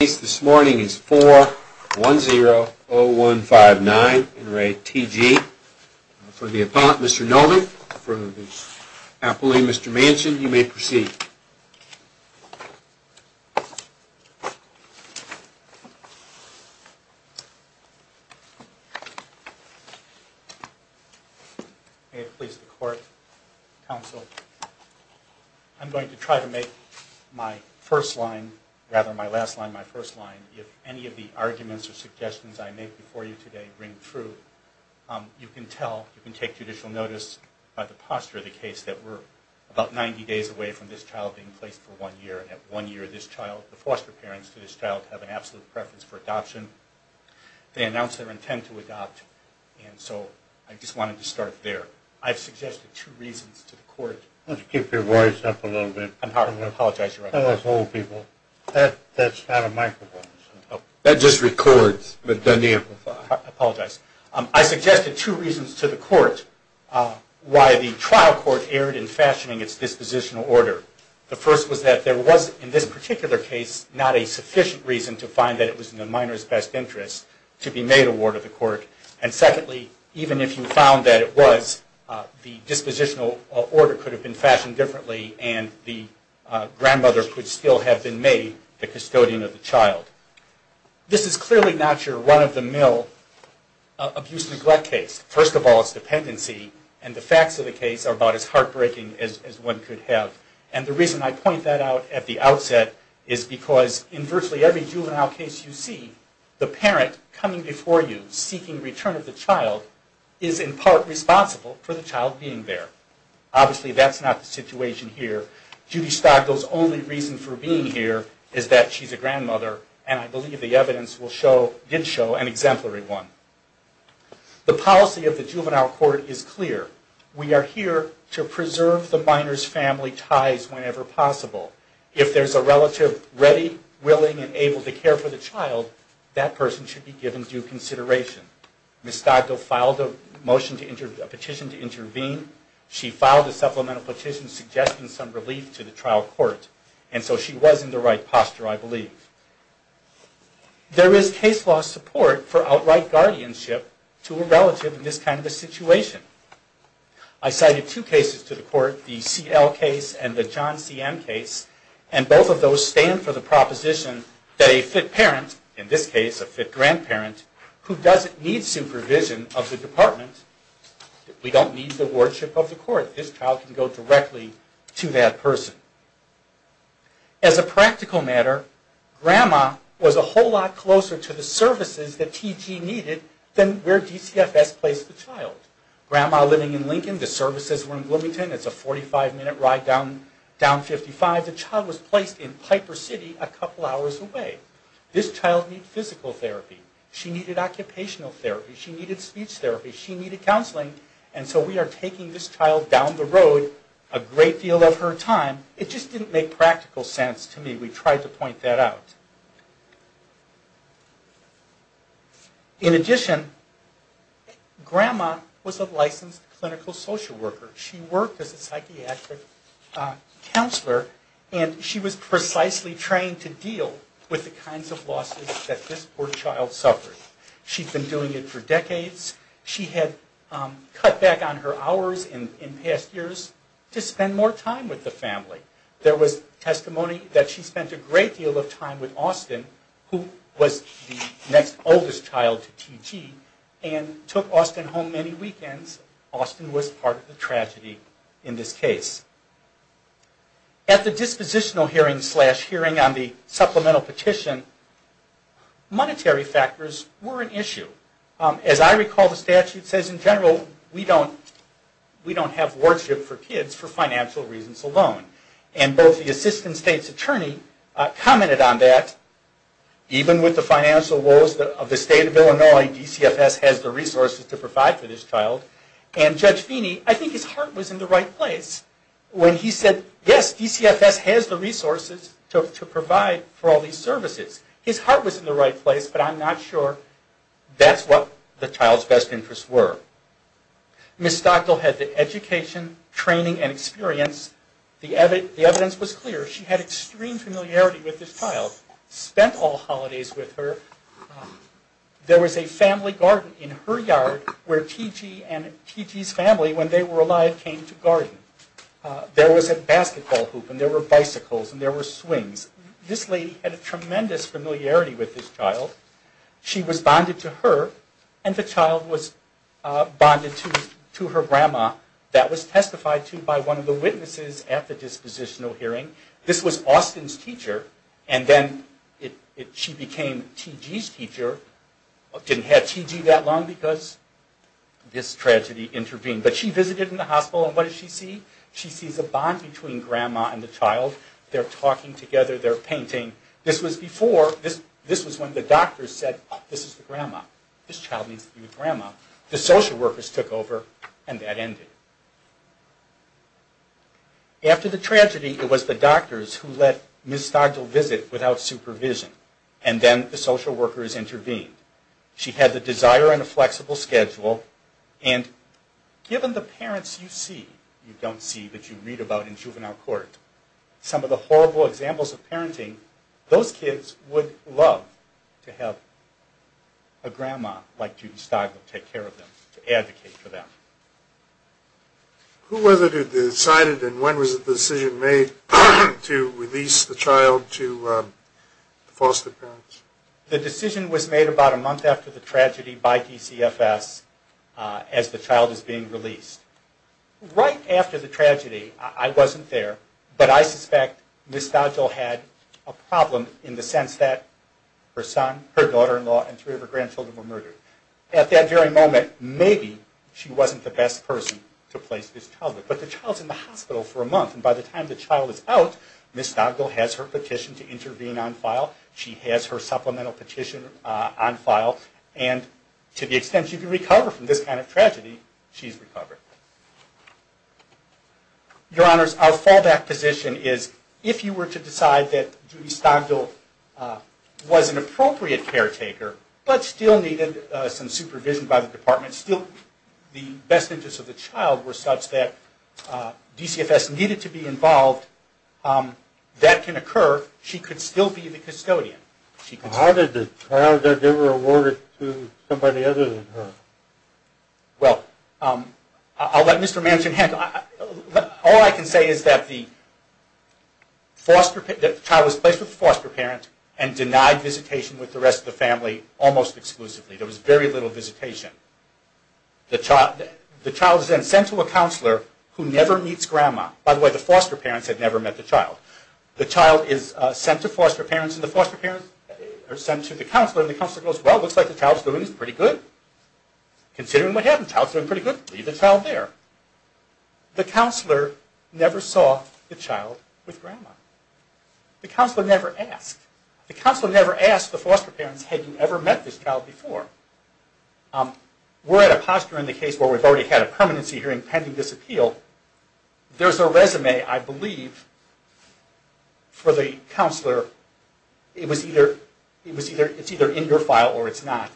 The case this morning is 4-1-0-0-1-5-9, in re. T.G. For the appellant, Mr. Novick, for the appellee, Mr. Manchin, you may proceed. May it please the court, counsel, I'm going to try to make my first line, rather my last line, my first line. If any of the arguments or suggestions I make before you today ring true, you can tell, you can take judicial notice by the posture of the case that we're about 90 days away from this child being placed for one year. And at one year, this child, the foster parents to this child have an absolute preference for adoption. They announce their intent to adopt, and so I just wanted to start there. I've suggested two reasons to the court. Keep your voice up a little bit. I'm sorry, I apologize. That's not a microphone. That just records. I apologize. I suggested two reasons to the court why the trial court erred in fashioning its dispositional order. The first was that there was, in this particular case, not a sufficient reason to find that it was in the minor's best interest to be made a ward of the court. And secondly, even if you found that it was, the dispositional order could have been fashioned differently and the grandmother could still have been made the custodian of the child. This is clearly not your run-of-the-mill abuse-neglect case. First of all, it's dependency, and the facts of the case are about as heartbreaking as one could have. And the reason I point that out at the outset is because in virtually every juvenile case you see, the parent coming before you, seeking return of the child, is in part responsible for the child being there. Obviously, that's not the situation here. Judy Stockville's only reason for being here is that she's a grandmother, and I believe the evidence did show an exemplary one. The policy of the juvenile court is clear. We are here to preserve the minor's family ties whenever possible. If there's a relative ready, willing, and able to care for the child, that person should be given due consideration. Ms. Stockville filed a petition to intervene. She filed a supplemental petition suggesting some relief to the trial court. And so she was in the right posture, I believe. There is case law support for outright guardianship to a relative in this kind of a situation. I cited two cases to the court, the C.L. case and the John C.M. case, and both of those stand for the proposition that a fit parent, in this case a fit grandparent, who doesn't need supervision of the department, we don't need the wardship of the court. This child can go directly to that person. As a practical matter, grandma was a whole lot closer to the services that T.G. needed than where DCFS placed the child. Grandma living in Lincoln, the services were in Bloomington. It's a 45-minute ride down 55. The child was placed in Piper City a couple hours away. This child needed physical therapy. She needed occupational therapy. She needed speech therapy. She needed counseling. And so we are taking this child down the road a great deal of her time. It just didn't make practical sense to me. We tried to point that out. In addition, grandma was a licensed clinical social worker. She worked as a psychiatric counselor, and she was precisely trained to deal with the kinds of losses that this poor child suffered. She'd been doing it for decades. She had cut back on her hours in past years to spend more time with the family. There was testimony that she spent a great deal of time with Austin, who was the next oldest child to T.G., and took Austin home many weekends. Austin was part of the tragedy in this case. At the dispositional hearing slash hearing on the supplemental petition, monetary factors were an issue. As I recall, the statute says in general we don't have worship for kids for financial reasons alone. And both the assistant state's attorney commented on that. Even with the financial woes of the state of Illinois, DCFS has the resources to provide for this child. And Judge Feeney, I think his heart was in the right place when he said, yes, DCFS has the resources to provide for all these services. His heart was in the right place, but I'm not sure that's what the child's best interests were. Ms. Stockdale had the education, training, and experience. The evidence was clear. She had extreme familiarity with this child, spent all holidays with her. There was a family garden in her yard where T.G. and T.G.'s family, when they were alive, came to garden. There was a basketball hoop, and there were bicycles, and there were swings. This lady had a tremendous familiarity with this child. She was bonded to her, and the child was bonded to her grandma. That was testified to by one of the witnesses at the dispositional hearing. This was Austin's teacher, and then she became T.G.'s teacher. Didn't have T.G. that long because this tragedy intervened. But she visited in the hospital, and what did she see? She sees a bond between grandma and the child. They're talking together. They're painting. This was before. This was when the doctors said, oh, this is the grandma. This child needs a new grandma. The social workers took over, and that ended. After the tragedy, it was the doctors who let Ms. Stockdale visit without supervision, and then the social workers intervened. She had the desire and a flexible schedule, and given the parents you see, you don't see, but you read about in juvenile court, some of the horrible examples of parenting, those kids would love to have a grandma like Judy Stockdale take care of them, to advocate for them. Who was it who decided, and when was it the decision made, to release the child to the foster parents? The decision was made about a month after the tragedy by DCFS, as the child is being released. Right after the tragedy, I wasn't there, but I suspect Ms. Stockdale had a problem in the sense that her son, her daughter-in-law, and three of her grandchildren were murdered. At that very moment, maybe she wasn't the best person to place this child with. But the child's in the hospital for a month, and by the time the child is out, Ms. Stockdale has her petition to intervene on file. She has her supplemental petition on file, and to the extent she can recover from this kind of tragedy, she's recovered. Your Honors, our fallback position is, if you were to decide that Judy Stockdale was an appropriate caretaker, but still needed some supervision by the department, still the best interests of the child were such that DCFS needed to be involved, that can occur. She could still be the custodian. How did the child not get rewarded to somebody other than her? Well, I'll let Mr. Manchin handle it. All I can say is that the child was placed with the foster parent and denied visitation with the rest of the family almost exclusively. There was very little visitation. The child is then sent to a counselor who never meets Grandma. By the way, the foster parents had never met the child. The child is sent to the counselor, and the counselor goes, well, looks like the child's doing pretty good. Considering what happened, the child's doing pretty good. Leave the child there. The counselor never saw the child with Grandma. The counselor never asked. The counselor never asked the foster parents, had you ever met this child before? We're at a posture in the case where we've already had a permanency hearing pending this appeal. There's a resume, I believe, for the counselor. It's either in your file or it's not.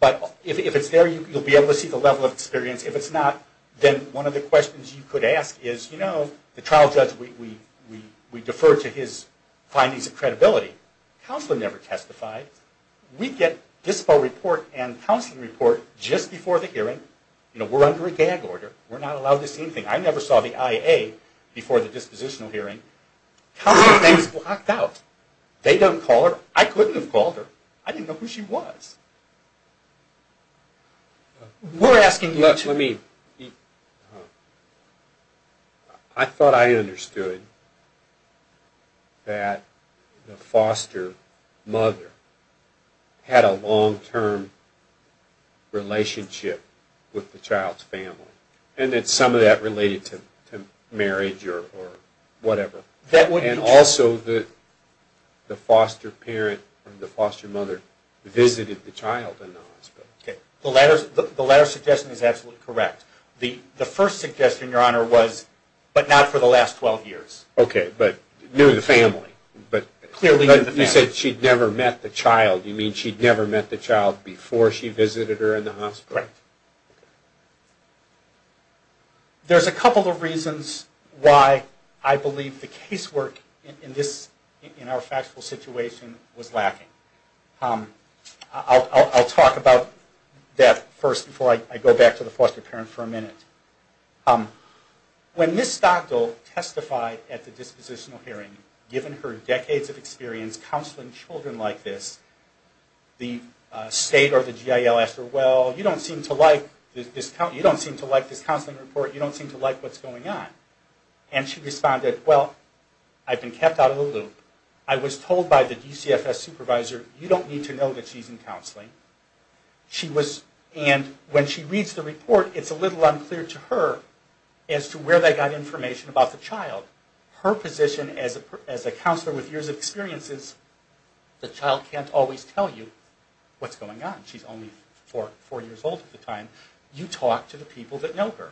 But if it's there, you'll be able to see the level of experience. If it's not, then one of the questions you could ask is, you know, the trial judge, we defer to his findings of credibility. Counselor never testified. We get dispo report and counseling report just before the hearing. We're under a gag order. We're not allowed to see anything. I never saw the IA before the dispositional hearing. Counselor's name is blocked out. They don't call her. I couldn't have called her. I didn't know who she was. We're asking you to. Let me. I thought I understood that the foster mother had a long-term relationship with the child's family and that some of that related to marriage or whatever. And also the foster parent or the foster mother visited the child in the hospital. Okay. The latter suggestion is absolutely correct. The first suggestion, Your Honor, was but not for the last 12 years. Okay. But knew the family. Clearly knew the family. But you said she'd never met the child. You mean she'd never met the child before she visited her in the hospital? Right. There's a couple of reasons why I believe the case work in our factual situation was lacking. I'll talk about that first before I go back to the foster parent for a minute. When Ms. Stockdale testified at the dispositional hearing, given her decades of experience counseling children like this, the state or the GIL asked her, Well, you don't seem to like this counseling report. You don't seem to like what's going on. And she responded, Well, I've been kept out of the loop. I was told by the DCFS supervisor, You don't need to know that she's in counseling. And when she reads the report, it's a little unclear to her as to where they got information about the child. Her position as a counselor with years of experience is, The child can't always tell you what's going on. She's only four years old at the time. You talk to the people that know her.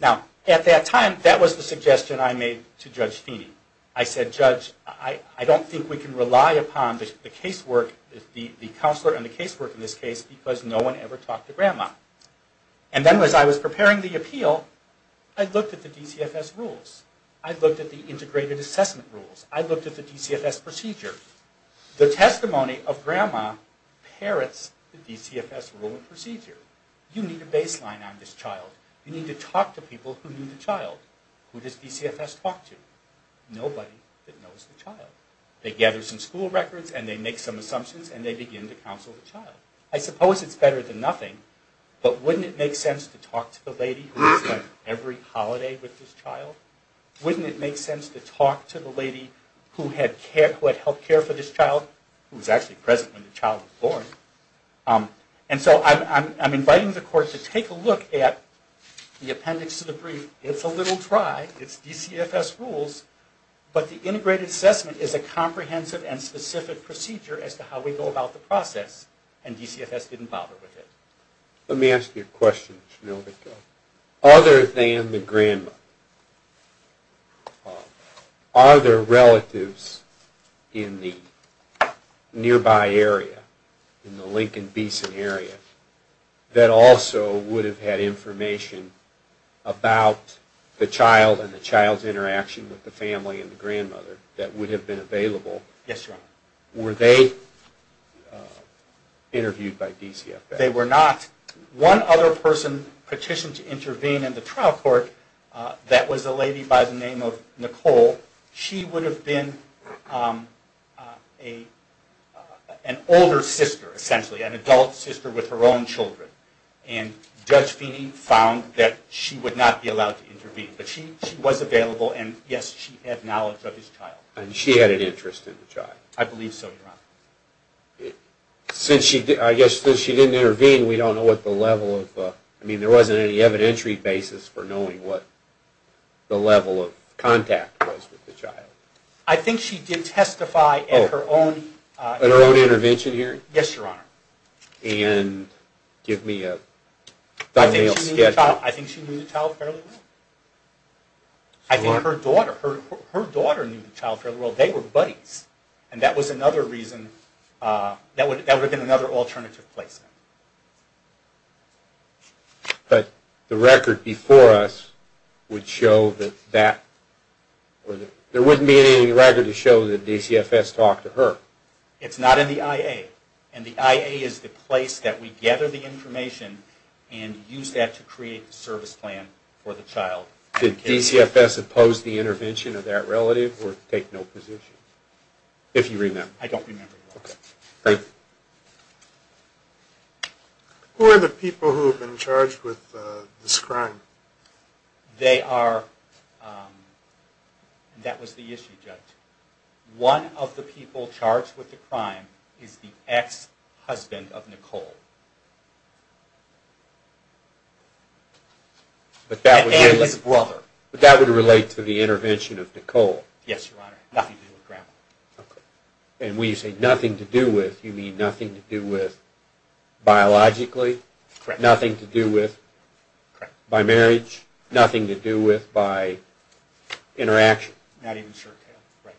Now, at that time, that was the suggestion I made to Judge Feeney. I said, Judge, I don't think we can rely upon the counselor and the casework in this case because no one ever talked to Grandma. And then as I was preparing the appeal, I looked at the DCFS rules. I looked at the integrated assessment rules. I looked at the DCFS procedure. The testimony of Grandma parrots the DCFS rule and procedure. You need a baseline on this child. You need to talk to people who knew the child. Who does DCFS talk to? Nobody that knows the child. They gather some school records and they make some assumptions and they begin to counsel the child. I suppose it's better than nothing, but wouldn't it make sense to talk to the lady who spent every holiday with this child? Wouldn't it make sense to talk to the lady who had health care for this child, who was actually present when the child was born? And so I'm inviting the Court to take a look at the appendix to the brief. It's a little dry. It's DCFS rules, but the integrated assessment is a comprehensive and specific procedure as to how we go about the process, and DCFS didn't bother with it. Let me ask you a question. Other than the Grandma, are there relatives in the nearby area, in the Lincoln-Beeson area, that also would have had information about the child and the child's interaction with the family and the grandmother that would have been available? Yes, Your Honor. Were they interviewed by DCFS? They were not. One other person petitioned to intervene in the trial court, that was a lady by the name of Nicole. She would have been an older sister, essentially, an adult sister with her own children, and Judge Feeney found that she would not be allowed to intervene, but she was available and, yes, she had knowledge of his child. And she had an interest in the child? I believe so, Your Honor. Since she didn't intervene, we don't know what the level of... I mean, there wasn't any evidentiary basis for knowing what the level of contact was with the child. I think she did testify at her own... At her own intervention hearing? Yes, Your Honor. And give me a... I think she knew the child fairly well. I think her daughter knew the child fairly well. They were buddies, and that was another reason, that would have been another alternative placement. But the record before us would show that that... There wouldn't be any record to show that DCFS talked to her. It's not in the IA. And the IA is the place that we gather the information and use that to create the service plan for the child. Did DCFS oppose the intervention of that relative or take no position? If you remember. I don't remember, Your Honor. Okay. Thank you. Who are the people who have been charged with this crime? They are... That was the issue, Judge. One of the people charged with the crime is the ex-husband of Nicole. And his brother. But that would relate to the intervention of Nicole. Yes, Your Honor. Nothing to do with grandma. And when you say nothing to do with, you mean nothing to do with biologically? Correct. Nothing to do with by marriage? Correct. Nothing to do with by interaction? Not even sure. Right.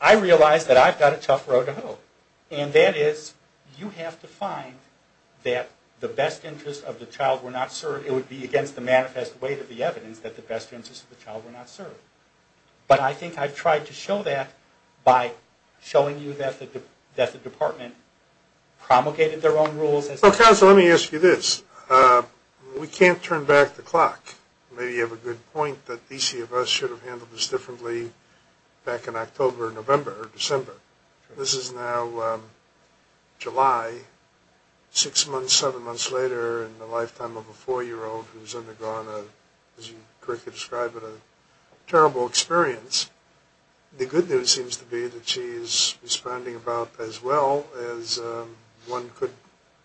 I realize that I've got a tough road to hoe. And that is, you have to find that the best interest of the child were not served. It would be against the manifest weight of the evidence that the best interest of the child were not served. But I think I've tried to show that by showing you that the department promulgated their own rules. Counsel, let me ask you this. We can't turn back the clock. Maybe you have a good point that DCFS should have handled this differently back in October, November, or December. This is now July, six months, seven months later, in the lifetime of a four-year-old who's undergone, as you correctly described it, a terrible experience. The good news seems to be that she is responding about as well as one could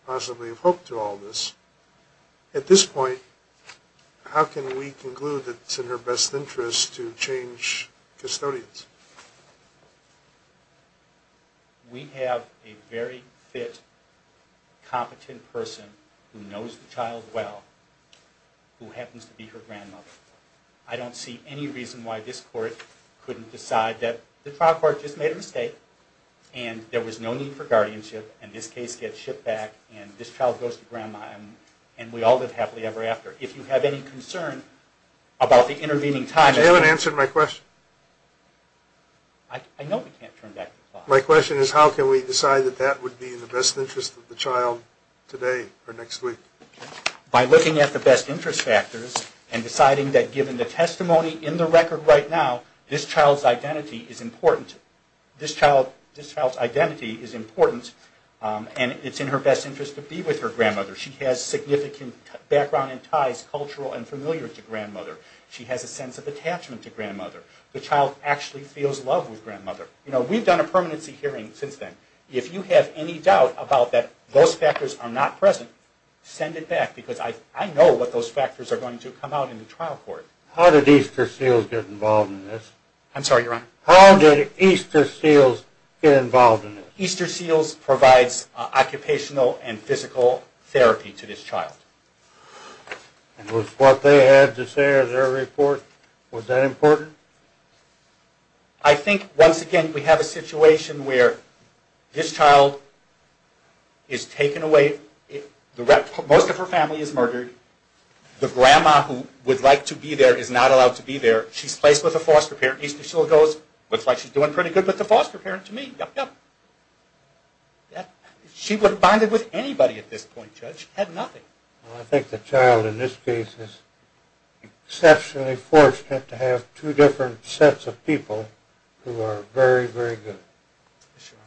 possibly have hoped to all this. At this point, how can we conclude that it's in her best interest to change custodians? We have a very fit, competent person who knows the child well who happens to be her grandmother. I don't see any reason why this court couldn't decide that the trial court just made a mistake and there was no need for guardianship and this case gets shipped back and this child goes to grandma and we all live happily ever after. If you have any concern about the intervening time... You haven't answered my question. I know we can't turn back the clock. My question is how can we decide that that would be in the best interest of the child today or next week? By looking at the best interest factors and deciding that given the testimony in the record right now, this child's identity is important. This child's identity is important and it's in her best interest to be with her grandmother. She has significant background and ties, cultural and familiar, to grandmother. She has a sense of attachment to grandmother. The child actually feels love with grandmother. We've done a permanency hearing since then. If you have any doubt about that those factors are not present, send it back because I know what those factors are going to come out in the trial court. How did Easter Seals get involved in this? I'm sorry, Your Honor. How did Easter Seals get involved in this? Easter Seals provides occupational and physical therapy to this child. And was what they had to say in their report, was that important? I think, once again, we have a situation where this child is taken away. Most of her family is murdered. The grandma who would like to be there is not allowed to be there. She's placed with a foster parent. Easter Seals goes, looks like she's doing pretty good with the foster parent to me. She would have bonded with anybody at this point, Judge, had nothing. I think the child, in this case, is exceptionally fortunate to have two different sets of people who are very, very good. Yes, Your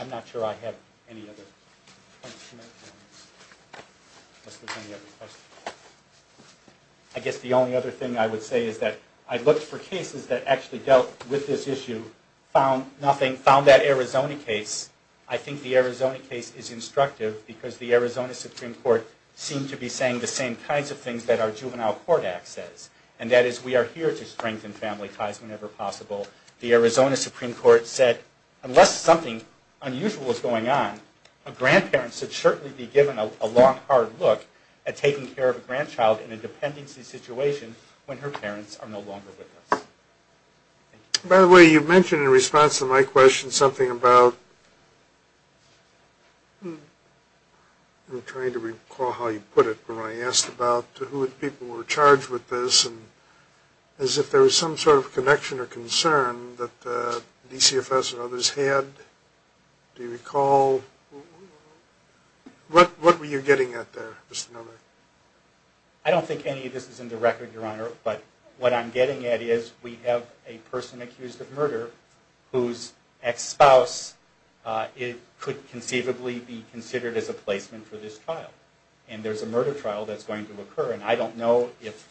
Honor. I'm not sure I have any other questions. Unless there's any other questions. I guess the only other thing I would say is that I looked for cases that actually dealt with this issue, found nothing, found that Arizona case. I think the Arizona case is instructive because the Arizona Supreme Court seemed to be saying the same kinds of things that our Juvenile Court Act says. And that is, we are here to strengthen family ties whenever possible. The Arizona Supreme Court said, unless something unusual is going on, a grandparent should certainly be given a long, hard look at taking care of a grandchild in a dependency situation when her parents are no longer with us. By the way, you mentioned in response to my question something about, I'm trying to recall how you put it, but when I asked about who the people were charged with this, as if there was some sort of connection or concern that DCFS and others had. Do you recall? What were you getting at there, Mr. Novak? I don't think any of this is in the record, Your Honor, but what I'm getting at is we have a person accused of murder whose ex-spouse could conceivably be considered as a placement for this trial. And there's a murder trial that's going to occur. And I don't know if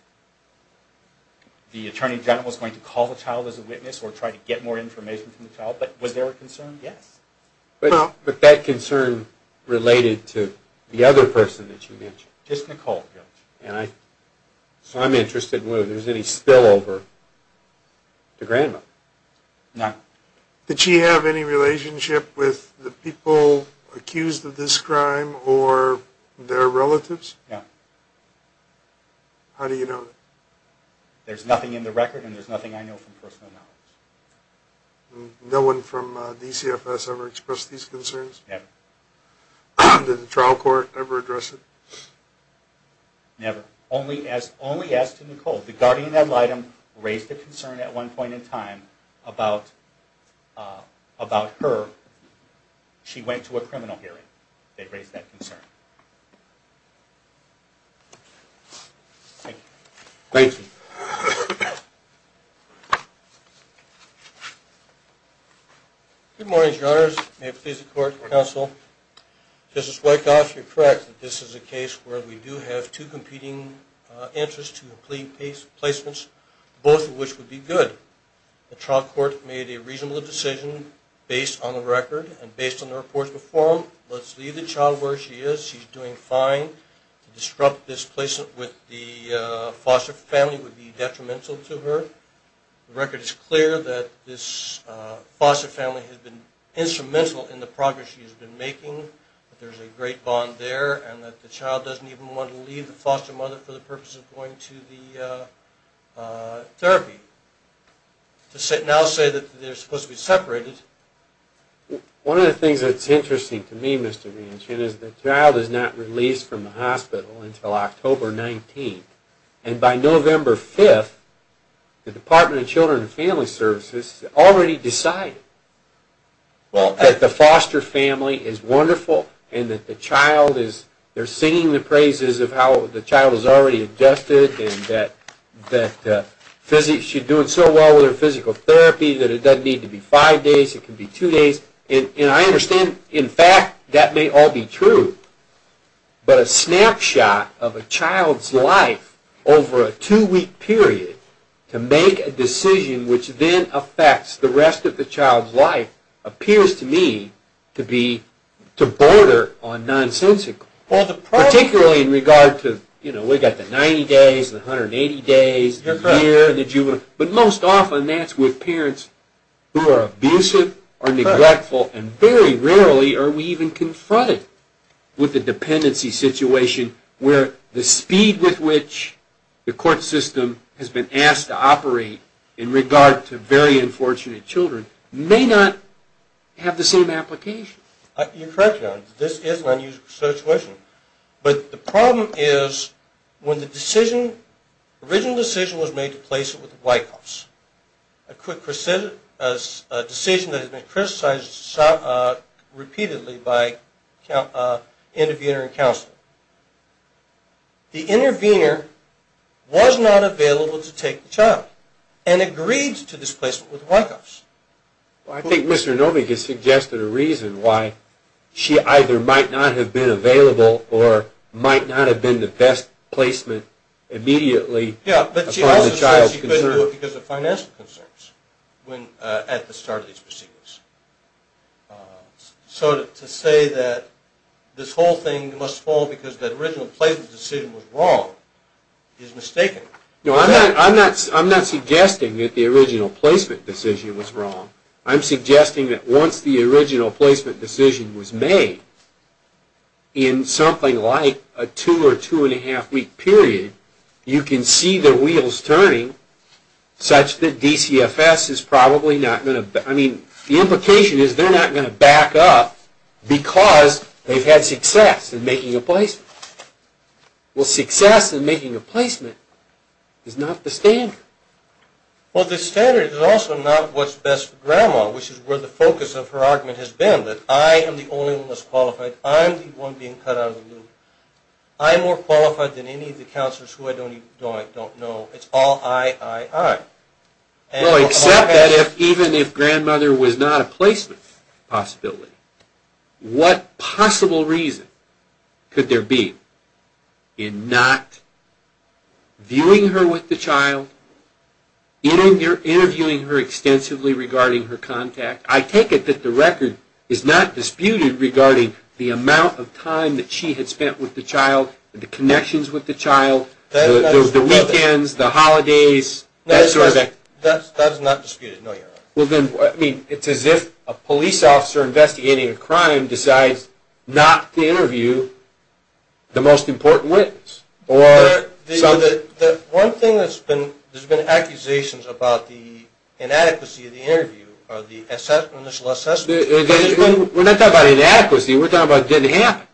the Attorney General is going to call the child as a witness or try to get more information from the child. But was there a concern? Yes. But that concern related to the other person that you mentioned. Just Nicole, Your Honor. So I'm interested in whether there's any spillover to grandmother. No. Did she have any relationship with the people accused of this crime or their relatives? No. How do you know? There's nothing in the record, and there's nothing I know from personal knowledge. No one from DCFS ever expressed these concerns? Never. Did the trial court ever address it? Never. Only as to Nicole. The guardian ad litem raised a concern at one point in time about her. She went to a criminal hearing. They raised that concern. Thank you. Thank you. Good morning, Your Honors. May it please the court and counsel. Justice Wyckoff, you're correct that this is a case where we do have two competing interests to complete placements, both of which would be good. The trial court made a reasonable decision based on the record and based on the reports before them. Let's leave the child where she is. She's doing fine. To disrupt this placement with the foster family would be detrimental to her. The record is clear that this foster family has been instrumental in the progress she has been making. There's a great bond there and that the child doesn't even want to leave the foster mother for the purpose of going to the therapy. To now say that they're supposed to be separated. One of the things that's interesting to me, Mr. Manchin, is the child is not released from the hospital until October 19th. And by November 5th, the Department of Children and Family Services already decided that the foster family is wonderful and that the child is, they're singing the praises of how the child is already adjusted and that she's doing so well with her physical therapy that it doesn't need to be five days, it can be two days. And I understand, in fact, that may all be true. But a snapshot of a child's life over a two-week period to make a decision which then affects the rest of the child's life appears to me to be, to border on nonsensical. Particularly in regard to, you know, we've got the 90 days, the 180 days, the year, the juvenile, but most often that's with parents who are abusive or neglectful and very rarely are we even confronted with a dependency situation where the speed with which the court system has been asked to operate in regard to very unfortunate children may not have the same application. You're correct, John. This is an unusual situation. But the problem is when the decision, the original decision was made to place it with the Wyckoffs, a decision that has been criticized repeatedly by the intervener and counselor, the intervener was not available to take the child and agreed to this placement with the Wyckoffs. I think Mr. Novick has suggested a reason why she either might not have been available or might not have been the best placement immediately. Yeah, but she also says she couldn't do it because of financial concerns at the start of these proceedings. So to say that this whole thing must fall because the original placement decision was wrong is mistaken. No, I'm not suggesting that the original placement decision was wrong. I'm suggesting that once the original placement decision was made, in something like a two or two and a half week period, you can see the wheels turning such that DCFS is probably not going to, I mean, the implication is they're not going to back up because they've had success in making a placement. Well, success in making a placement is not the standard. Well, the standard is also not what's best for Grandma, which is where the focus of her argument has been, that I am the only one that's qualified. I'm the one being cut out of the loop. I'm more qualified than any of the counselors who I don't know. It's all I, I, I. Well, except that even if Grandmother was not a placement possibility, what possible reason could there be in not viewing her with the child, interviewing her extensively regarding her contact? I take it that the record is not disputed regarding the amount of time that she had spent with the child, the connections with the child, the weekends, the holidays, that sort of thing. That is not disputed, no, Your Honor. Well, then, I mean, it's as if a police officer investigating a crime decides not to interview the most important witness or something. One thing that's been, there's been accusations about the inadequacy of the interview or the initial assessment. We're not talking about inadequacy. We're talking about it didn't happen.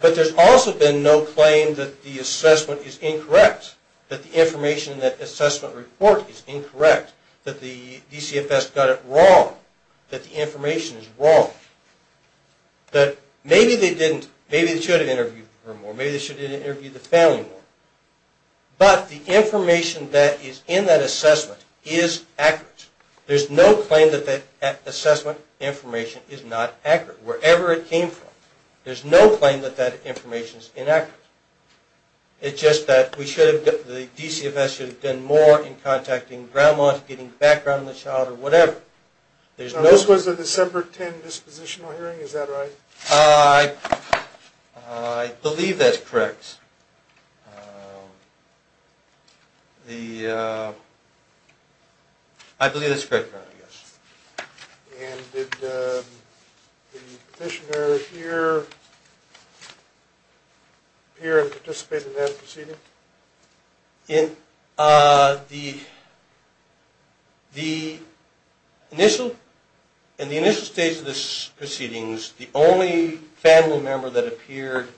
But there's also been no claim that the assessment is incorrect, that the information in that assessment report is incorrect, that the DCFS got it wrong, that the information is wrong, that maybe they didn't, maybe they should have interviewed her more, maybe they should have interviewed the family more. But the information that is in that assessment is accurate. There's no claim that that assessment information is not accurate, wherever it came from. There's no claim that that information is inaccurate. It's just that we should have, the DCFS should have done more in contacting grandmas, getting background on the child, or whatever. Now, this was a December 10 dispositional hearing, is that right? I believe that's correct. I believe that's correct, Your Honor, yes. And did the petitioner here appear and participate in that proceeding? In the initial stage of the proceedings, the only family member that appeared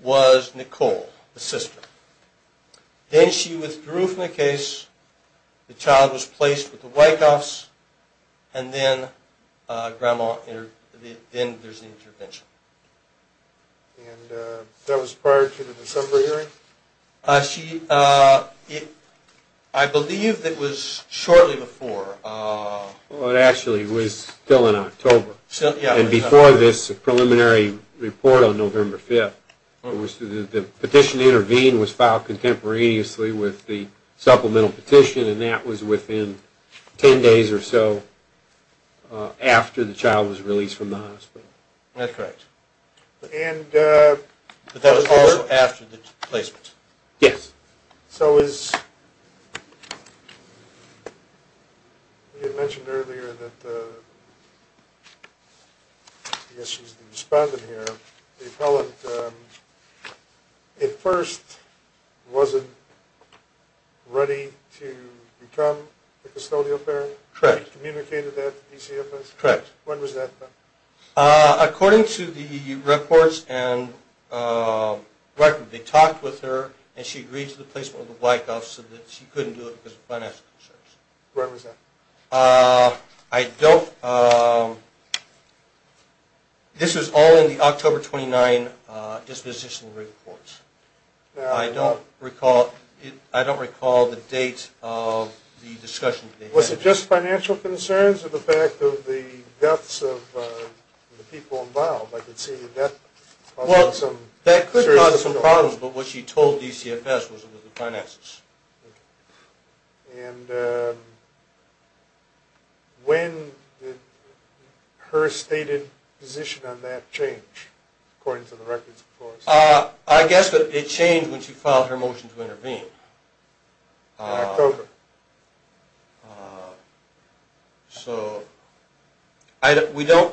was Nicole, the sister. Then she withdrew from the case, the child was placed with the Wyckoffs, and then there's an intervention. And that was prior to the December hearing? I believe that was shortly before. Well, it actually was still in October. And before this preliminary report on November 5th, the petition to intervene was filed contemporaneously with the supplemental petition, and that was within 10 days or so after the child was released from the hospital. That's correct. And that was also after the placement? Yes. So as you had mentioned earlier that, I guess she's the respondent here, the appellant at first wasn't ready to become the custodial parent? Correct. She communicated that to DCFS? Correct. When was that? According to the reports and records, they talked with her, and she agreed to the placement of the Wyckoffs so that she couldn't do it because of financial concerns. When was that? I don't know. This was all in the October 29 disposition reports. I don't recall the date of the discussion. Was it just financial concerns or the fact of the deaths of the people involved? I could see that. That could cause some problems, but what she told DCFS was it was the finances. And when did her stated position on that change, according to the records? I guess it changed when she filed her motion to intervene. October. So I don't recall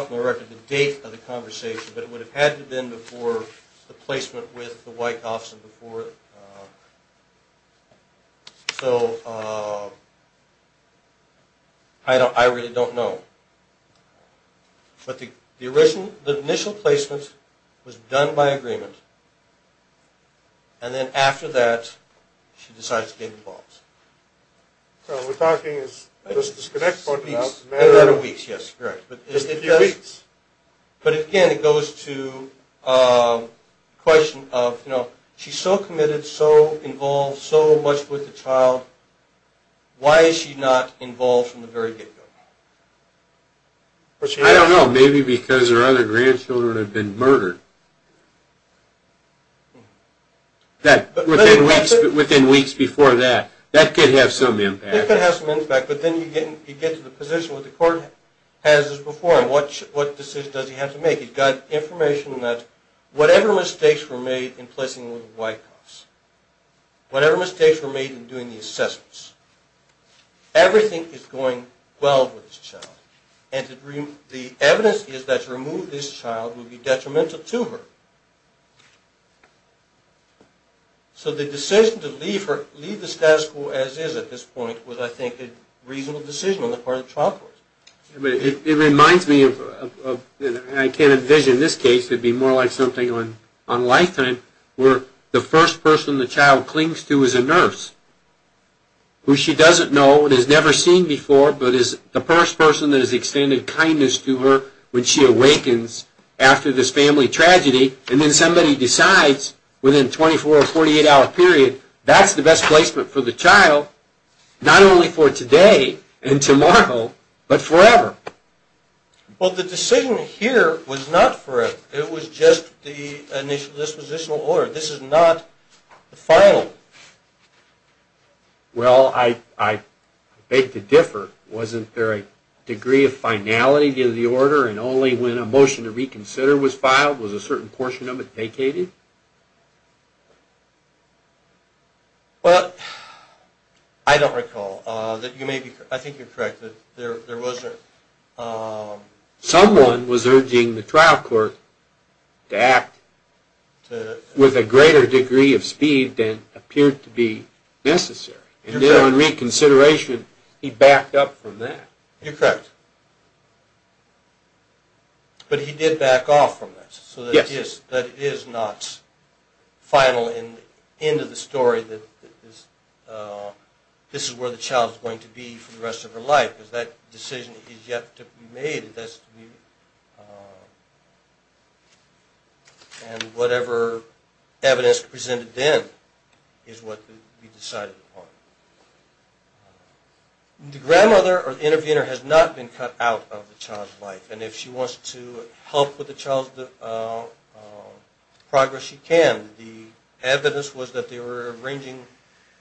from the record the date of the conversation, but it would have had to have been before the placement with the Wyckoffs and before. So I really don't know. But the initial placement was done by agreement, and then after that she decides to get involved. So we're talking just the next couple of weeks. Yes, correct. But again, it goes to the question of, you know, she's so committed, so involved, so much with the child. Why is she not involved from the very get-go? I don't know. Maybe because her other grandchildren have been murdered. Within weeks before that, that could have some impact. It could have some impact, but then you get to the position where the court has this before, and what decision does he have to make? He's got information that whatever mistakes were made in placing with the Wyckoffs, whatever mistakes were made in doing the assessments, everything is going well with this child. And the evidence is that to remove this child would be detrimental to her. So the decision to leave her, leave the status quo as is at this point, was, I think, a reasonable decision on the part of the trial court. It reminds me of, and I can't envision this case, could be more like something on Lifetime, where the first person the child clings to is a nurse, who she doesn't know and has never seen before, but is the first person that has extended kindness to her when she awakens after this family tragedy. And then somebody decides within a 24- or 48-hour period, that's the best placement for the child, not only for today and tomorrow, but forever. Well, the decision here was not forever. It was just the dispositional order. This is not the final. Well, I beg to differ. Wasn't there a degree of finality to the order, and only when a motion to reconsider was filed was a certain portion of it vacated? Well, I don't recall. I think you're correct. Someone was urging the trial court to act with a greater degree of speed than appeared to be necessary. And then on reconsideration, he backed up from that. You're correct. But he did back off from that, so that it is not final and end of the story that this is where the child is going to be for the rest of her life. Because that decision is yet to be made. And whatever evidence presented then is what will be decided upon. The grandmother or the intervener has not been cut out of the child's life. And if she wants to help with the child's progress, she can. The evidence was that they were arranging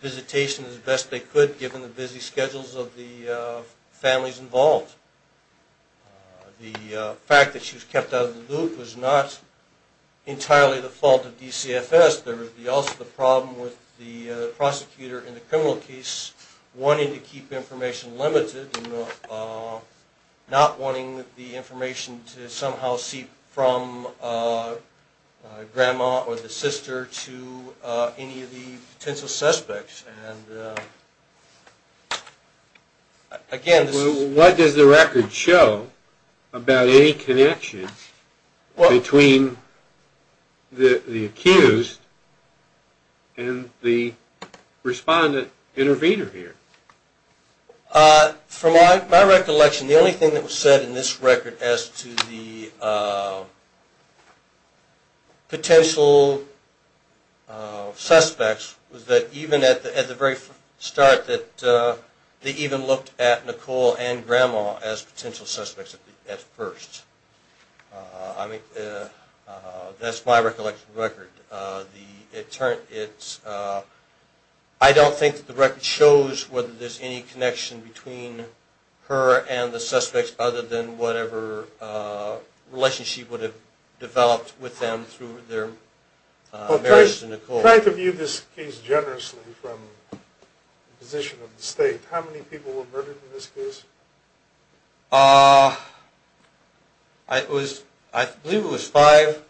visitation as best they could given the busy schedules of the families involved. The fact that she was kept out of the loop was not entirely the fault of DCFS. There was also the problem with the prosecutor in the criminal case wanting to keep information limited and not wanting the information to somehow seep from grandma or the sister to any of the potential suspects. What does the record show about any connection between the accused and the respondent intervener here? From my recollection, the only thing that was said in this record as to the very start that they even looked at Nicole and grandma as potential suspects at first. That's my recollection of the record. I don't think the record shows whether there's any connection between her and the suspects other than whatever relationship would have developed with them through their marriage to Nicole. You tried to view this case generously from the position of the state. How many people were murdered in this case? I believe it was five.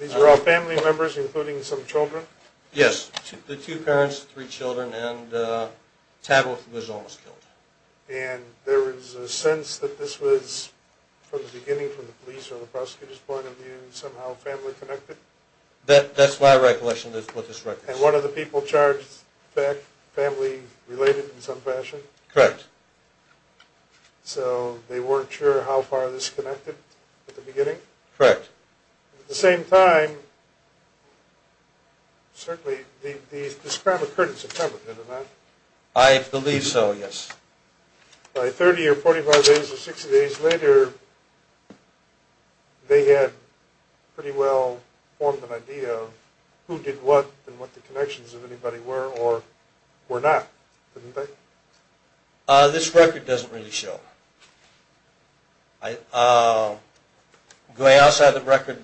These were all family members, including some children? Yes, the two parents, three children, and Tabitha was almost killed. And there was a sense that this was, from the beginning, from the police or the prosecutor's point of view, somehow family connected? That's my recollection of this record. And one of the people charged is family related in some fashion? Correct. So they weren't sure how far this connected at the beginning? Correct. At the same time, certainly this crime occurred in September, didn't it? I believe so, yes. By 30 or 45 days or 60 days later, they had pretty well formed an idea of who did what and what the connections of anybody were or were not, didn't they? This record doesn't really show. Going outside the record,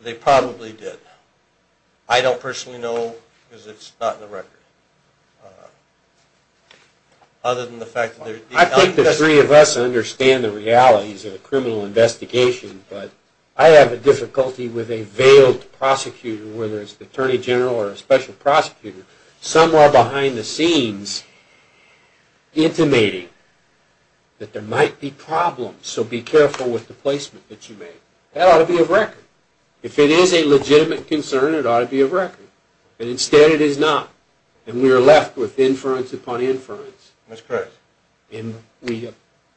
they probably did. I don't personally know because it's not in the record. I think the three of us understand the realities of a criminal investigation, but I have a difficulty with a veiled prosecutor, whether it's the attorney general or a special prosecutor, somewhere behind the scenes intimating that there might be problems, so be careful with the placement that you make. That ought to be of record. If it is a legitimate concern, it ought to be of record. But instead it is not, and we are left with inference upon inference. That's correct. It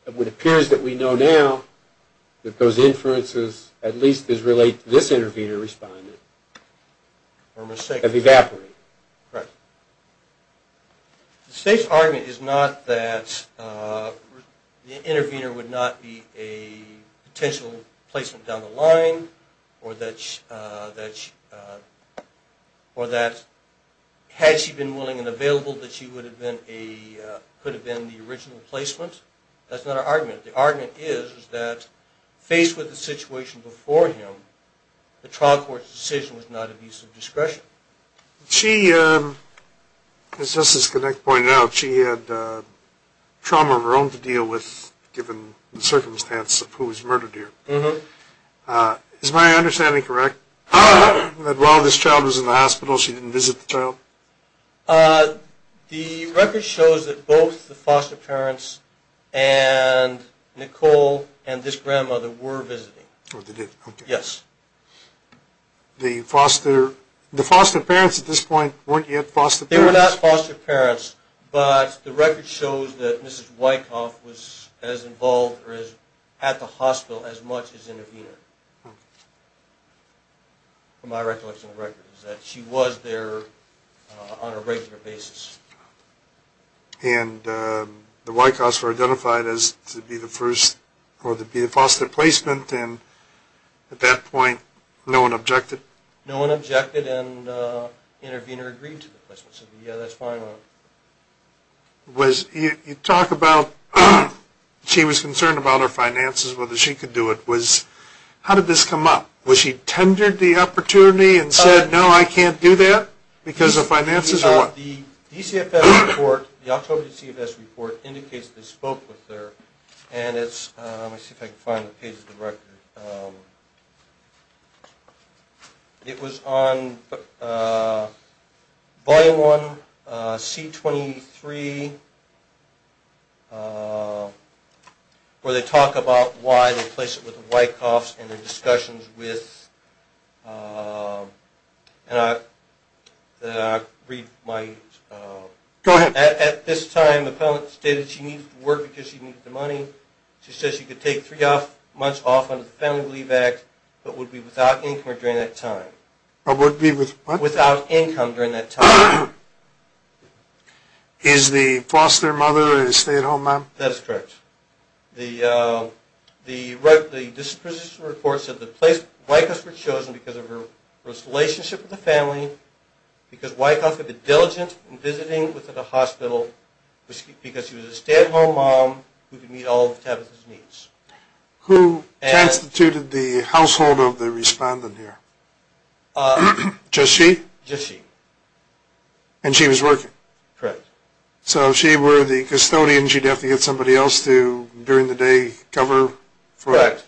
appears that we know now that those inferences at least as related to this intervener respondent have evaporated. Correct. The state's argument is not that the intervener would not be a potential placement down the line or that had she been willing and available that she could have been the original placement. That's not our argument. The argument is that faced with the situation before him, the trial court's decision was not of use of discretion. She, as Justice Connick pointed out, she had trauma of her own to deal with given the circumstance of who was murdered here. Is my understanding correct that while this child was in the hospital she didn't visit the child? The record shows that both the foster parents and Nicole and this grandmother were visiting. Oh, they did? Yes. The foster parents at this point weren't yet foster parents? They were not foster parents, but the record shows that Mrs. Wyckoff was as involved or at the hospital as much as the intervener, from my recollection of records, that she was there on a regular basis. And the Wyckoffs were identified as to be the first or to be the foster placement, and at that point no one objected? No one objected and the intervener agreed to the placement, so yeah, that's fine. You talk about she was concerned about her finances, whether she could do it. How did this come up? Was she tendered the opportunity and said, no, I can't do that because of finances, or what? The DCFS report, the October DCFS report, indicates they spoke with her, and it's, let me see if I can find the page of the record. It was on Volume 1, C23, where they talk about why they placed it with the Wyckoffs and their discussions with, and I read my, Go ahead. At this time the appellant stated she needed to work because she needed the money. She said she could take three months off under the Family Relief Act, but would be without income during that time. But would be with what? Without income during that time. Is the foster mother a stay-at-home mom? That is correct. The DCFS report said the Wyckoffs were chosen because of her relationship with the family, because Wyckoffs had the diligence in visiting within the hospital, because she was a stay-at-home mom who could meet all of Tavis' needs. Who transtituted the household of the respondent here? Just she? Just she. And she was working? Correct. So if she were the custodian, she'd have to get somebody else to, during the day, cover for it? Correct.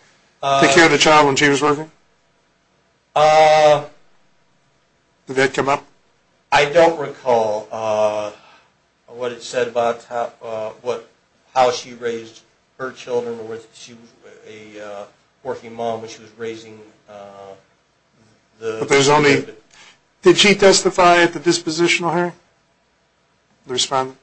Take care of the child when she was working? Did that come up? I don't recall what it said about how she raised her children or whether she was a working mom when she was raising the respondent. Did she testify at the dispositional hearing? The respondent?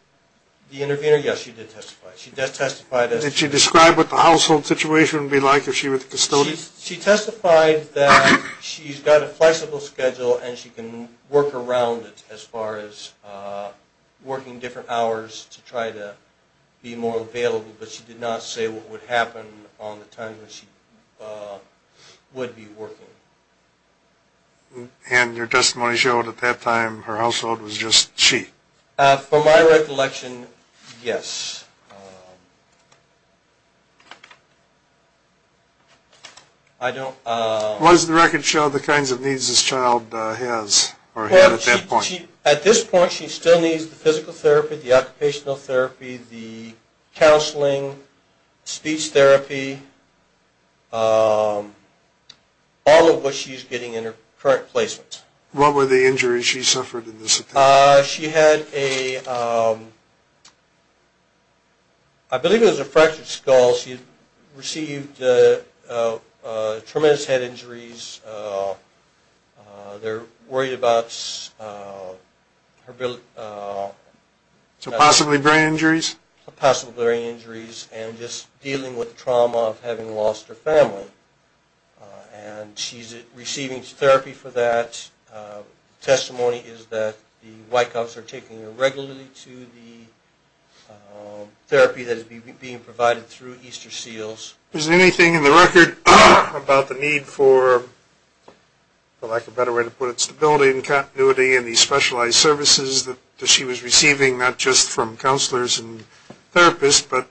The intervener? Yes, she did testify. Did she describe what the household situation would be like if she were the custodian? She testified that she's got a flexible schedule and she can work around it as far as working different hours to try to be more available, but she did not say what would happen on the time when she would be working. And your testimony showed at that time her household was just she? From my recollection, yes. Why does the record show the kinds of needs this child has or had at that point? At this point, she still needs the physical therapy, the occupational therapy, the counseling, speech therapy, all of what she's getting in her current placement. What were the injuries she suffered in this attempt? She had a, I believe it was a fractured skull. She received tremendous head injuries. They're worried about her? Possibly brain injuries? Possibly brain injuries and just dealing with trauma of having lost her family. And she's receiving therapy for that. The testimony is that the White Cops are taking her regularly to the therapy that is being provided through Easter Seals. Is there anything in the record about the need for, for lack of a better way to put it, stability and continuity in these specialized services that she was receiving, not just from counselors and therapists, but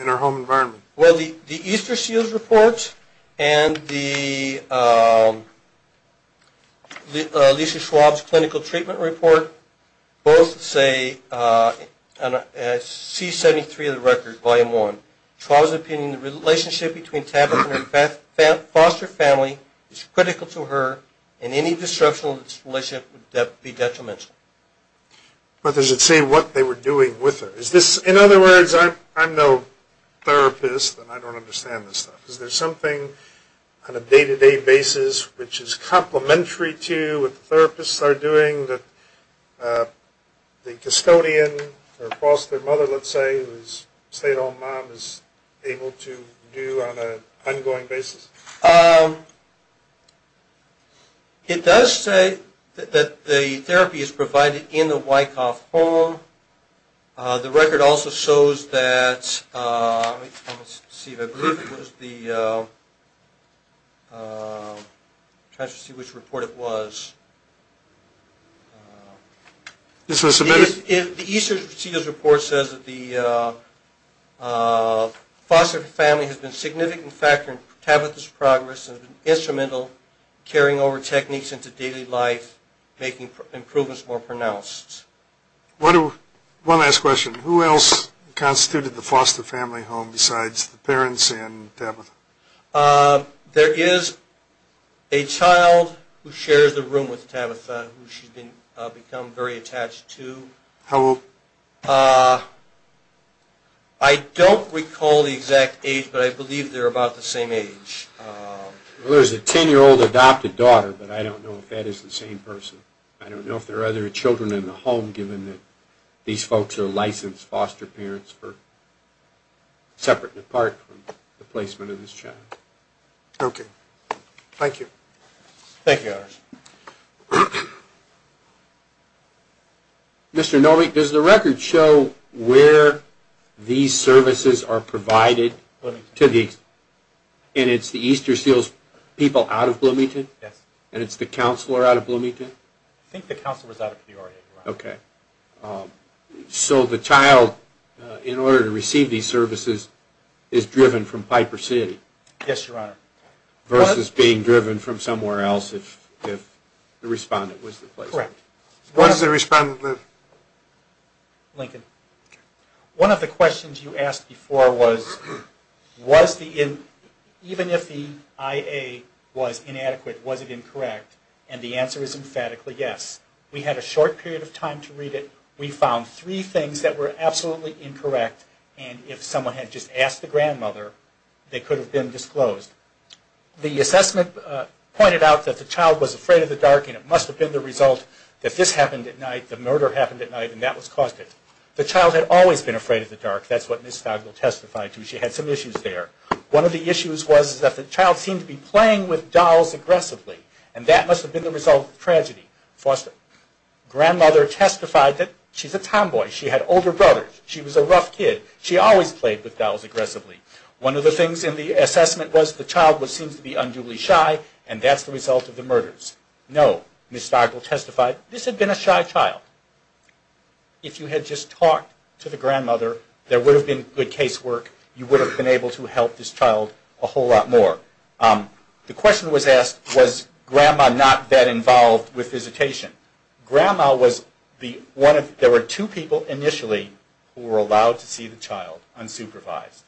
in her home environment? Well, the Easter Seals report and the Lisa Schwab's clinical treatment report both say, and I see 73 in the record, volume 1, Schwab's opinion in the relationship between Tabitha and her foster family is critical to her and any disruption of this relationship would be detrimental. But does it say what they were doing with her? Is this, in other words, I'm no therapist and I don't understand this stuff. Is there something on a day-to-day basis which is complementary to what the therapists are doing that the custodian or foster mother, let's say, who's a stay-at-home mom is able to do on an ongoing basis? It does say that the therapy is provided in the White Cops' home. The record also shows that, let's see, I believe it was the, I'm trying to see which report it was. The Easter Seals report says that the foster family has been a significant factor in Tabitha's progress and instrumental carrying over techniques into daily life, making improvements more pronounced. One last question. Who else constituted the foster family home besides the parents and Tabitha? There is a child who shares the room with Tabitha who she's become very attached to. How old? I don't recall the exact age, but I believe they're about the same age. Well, there's a 10-year-old adopted daughter, but I don't know if that is the same person. I don't know if there are other children in the home, given that these folks are licensed foster parents for separate and apart from the placement of this child. Okay. Thank you. Thank you. Mr. Norwick, does the record show where these services are provided? And it's the Easter Seals people out of Bloomington? Yes. And it's the counselor out of Bloomington? I think the counselor is out of Peoria, Your Honor. Okay. So the child, in order to receive these services, is driven from Piper City? Yes, Your Honor. Versus being driven from somewhere else if the respondent was the placeholder? Correct. What does the respondent live? Lincoln. One of the questions you asked before was, even if the IA was inadequate, was it incorrect? And the answer is emphatically yes. We had a short period of time to read it. We found three things that were absolutely incorrect, and if someone had just asked the grandmother, they could have been disclosed. The assessment pointed out that the child was afraid of the dark, and it must have been the result that this happened at night, the murder happened at night, and that was caused it. The child had always been afraid of the dark. That's what Ms. Fagel testified to. She had some issues there. One of the issues was that the child seemed to be playing with dolls aggressively, and that must have been the result of the tragedy. Foster grandmother testified that she's a tomboy. She had older brothers. She was a rough kid. She always played with dolls aggressively. One of the things in the assessment was the child seems to be unduly shy, and that's the result of the murders. No, Ms. Fagel testified, this had been a shy child. If you had just talked to the grandmother, there would have been good case work. You would have been able to help this child a whole lot more. The question was asked, was grandma not that involved with visitation? There were two people initially who were allowed to see the child unsupervised,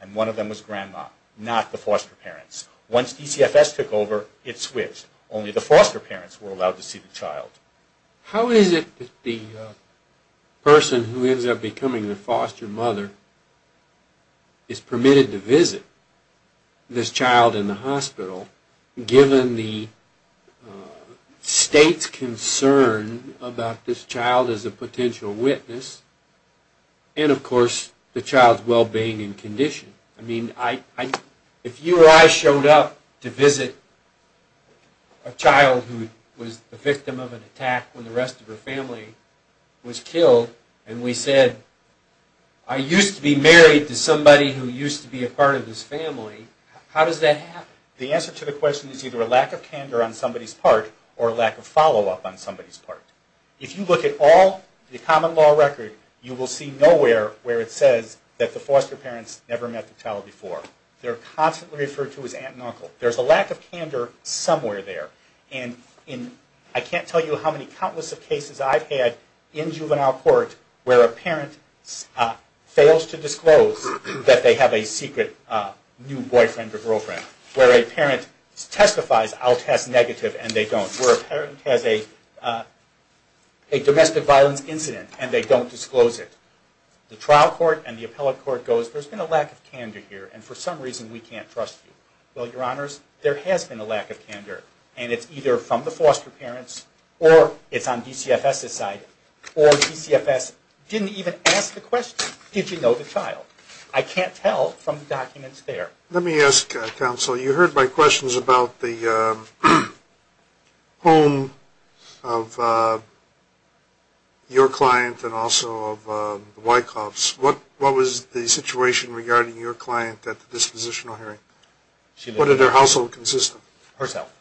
and one of them was grandma, not the foster parents. Once DCFS took over, it switched. Only the foster parents were allowed to see the child. How is it that the person who ends up becoming the foster mother is permitted to visit this child in the hospital given the state's concern about this child as a potential witness and, of course, the child's well-being and condition? I mean, if you or I showed up to visit a child who was the victim of an attack when the rest of her family was killed, and we said, I used to be married to somebody who used to be a part of this family, how does that happen? The answer to the question is either a lack of candor on somebody's part or a lack of follow-up on somebody's part. If you look at all the common law record, you will see nowhere where it says that the foster parents never met the child before. They're constantly referred to as aunt and uncle. There's a lack of candor somewhere there, and I can't tell you how many I've had in juvenile court where a parent fails to disclose that they have a secret new boyfriend or girlfriend, where a parent testifies, I'll test negative, and they don't, where a parent has a domestic violence incident and they don't disclose it. The trial court and the appellate court goes, there's been a lack of candor here, and for some reason we can't trust you. Well, Your Honors, there has been a lack of candor, and it's either from the foster parents or it's on DCFS's side, or DCFS didn't even ask the question, did you know the child? I can't tell from the documents there. Let me ask, counsel, you heard my questions about the home of your client and also of Wyckoff's. What was the situation regarding your client at the dispositional hearing? Was her household consistent? Herself.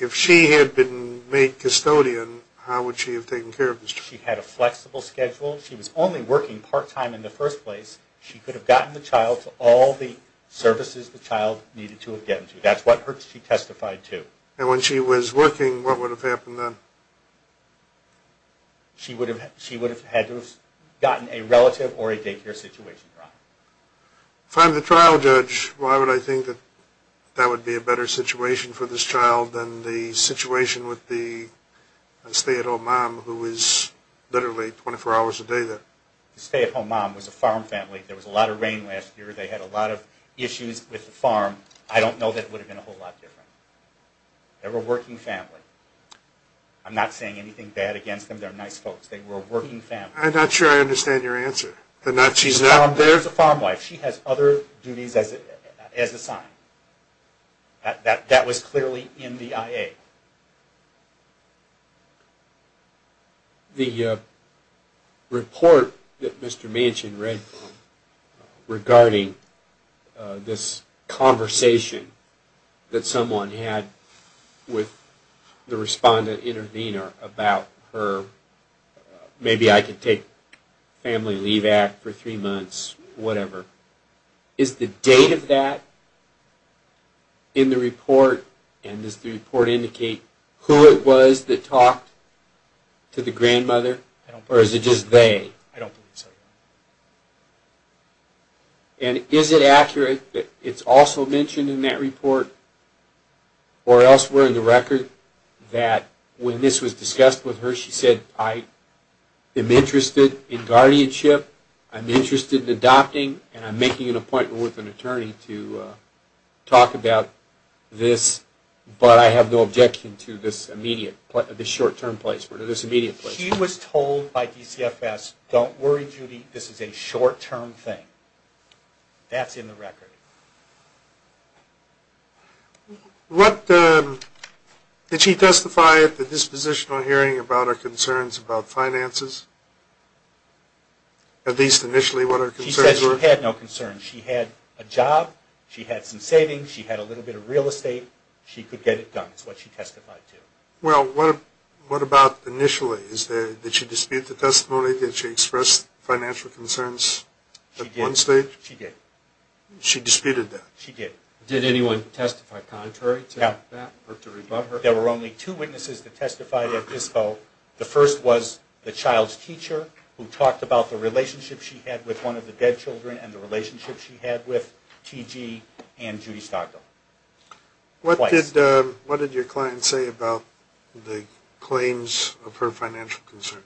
If she had been made custodian, how would she have taken care of the child? She had a flexible schedule. She was only working part-time in the first place. She could have gotten the child to all the services the child needed to have gotten to. That's what she testified to. And when she was working, what would have happened then? She would have had to have gotten a relative or a daycare situation trial. If I'm the trial judge, why would I think that that would be a better situation for this child than the situation with the stay-at-home mom who is literally 24 hours a day there? The stay-at-home mom was a farm family. There was a lot of rain last year. They had a lot of issues with the farm. I don't know that it would have been a whole lot different. They were a working family. I'm not saying anything bad against them. They're nice folks. They were a working family. I'm not sure I understand your answer. There's a farm wife. She has other duties as assigned. That was clearly in the IA. The report that Mr. Manchin read regarding this conversation that someone had with the respondent intervener about her, maybe I could take family leave act for three months, whatever. Is the date of that in the report? And does the report indicate who it was that talked to the grandmother? Or is it just they? I don't believe so. And is it accurate that it's also mentioned in that report or elsewhere in the record that when this was discussed with her she said, I am interested in guardianship, I'm interested in adopting, and I'm making an appointment with an attorney to talk about this, but I have no objection to this immediate, this short-term place, this immediate place. She was told by DCFS, don't worry, Judy, this is a short-term thing. That's in the record. Did she testify at the dispositional hearing about her concerns about finances? At least initially what her concerns were? She said she had no concerns. She had a job. She had some savings. She had a little bit of real estate. She could get it done is what she testified to. Well, what about initially? Did she dispute the testimony? Did she express financial concerns at one stage? She did. She disputed that? She did. Did anyone testify contrary to that or to rebut her? There were only two witnesses that testified at DISCO. The first was the child's teacher who talked about the relationship she had with one of the dead children and the relationship she had with T.G. and Judy Stockdale. What did your client say about the claims of her financial concerns?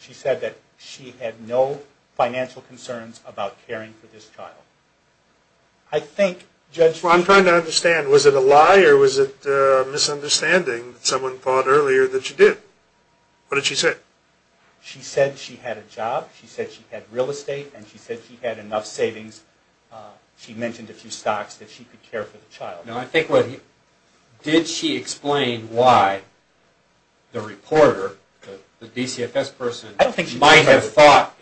She said that she had no financial concerns about caring for this child. I'm trying to understand. Was it a lie or was it a misunderstanding that someone thought earlier that she did? What did she say? She said she had a job. She said she had real estate, and she said she had enough savings. She mentioned a few stocks that she could care for the child. Did she explain why the reporter, the DCFS person, might have thought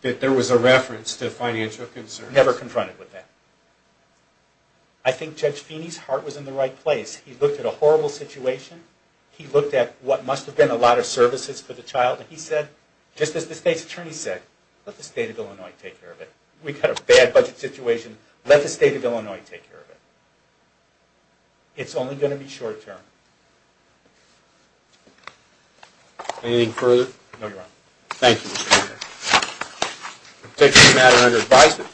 that there was a reference to financial concerns? Never confronted with that. I think Judge Feeney's heart was in the right place. He looked at a horrible situation. He looked at what must have been a lot of services for the child, and he said, just as the state's attorney said, let the state of Illinois take care of it. We've got a bad budget situation. Let the state of Illinois take care of it. It's only going to be short term. Anything further? No, Your Honor. Thank you. This case is a matter under advisement.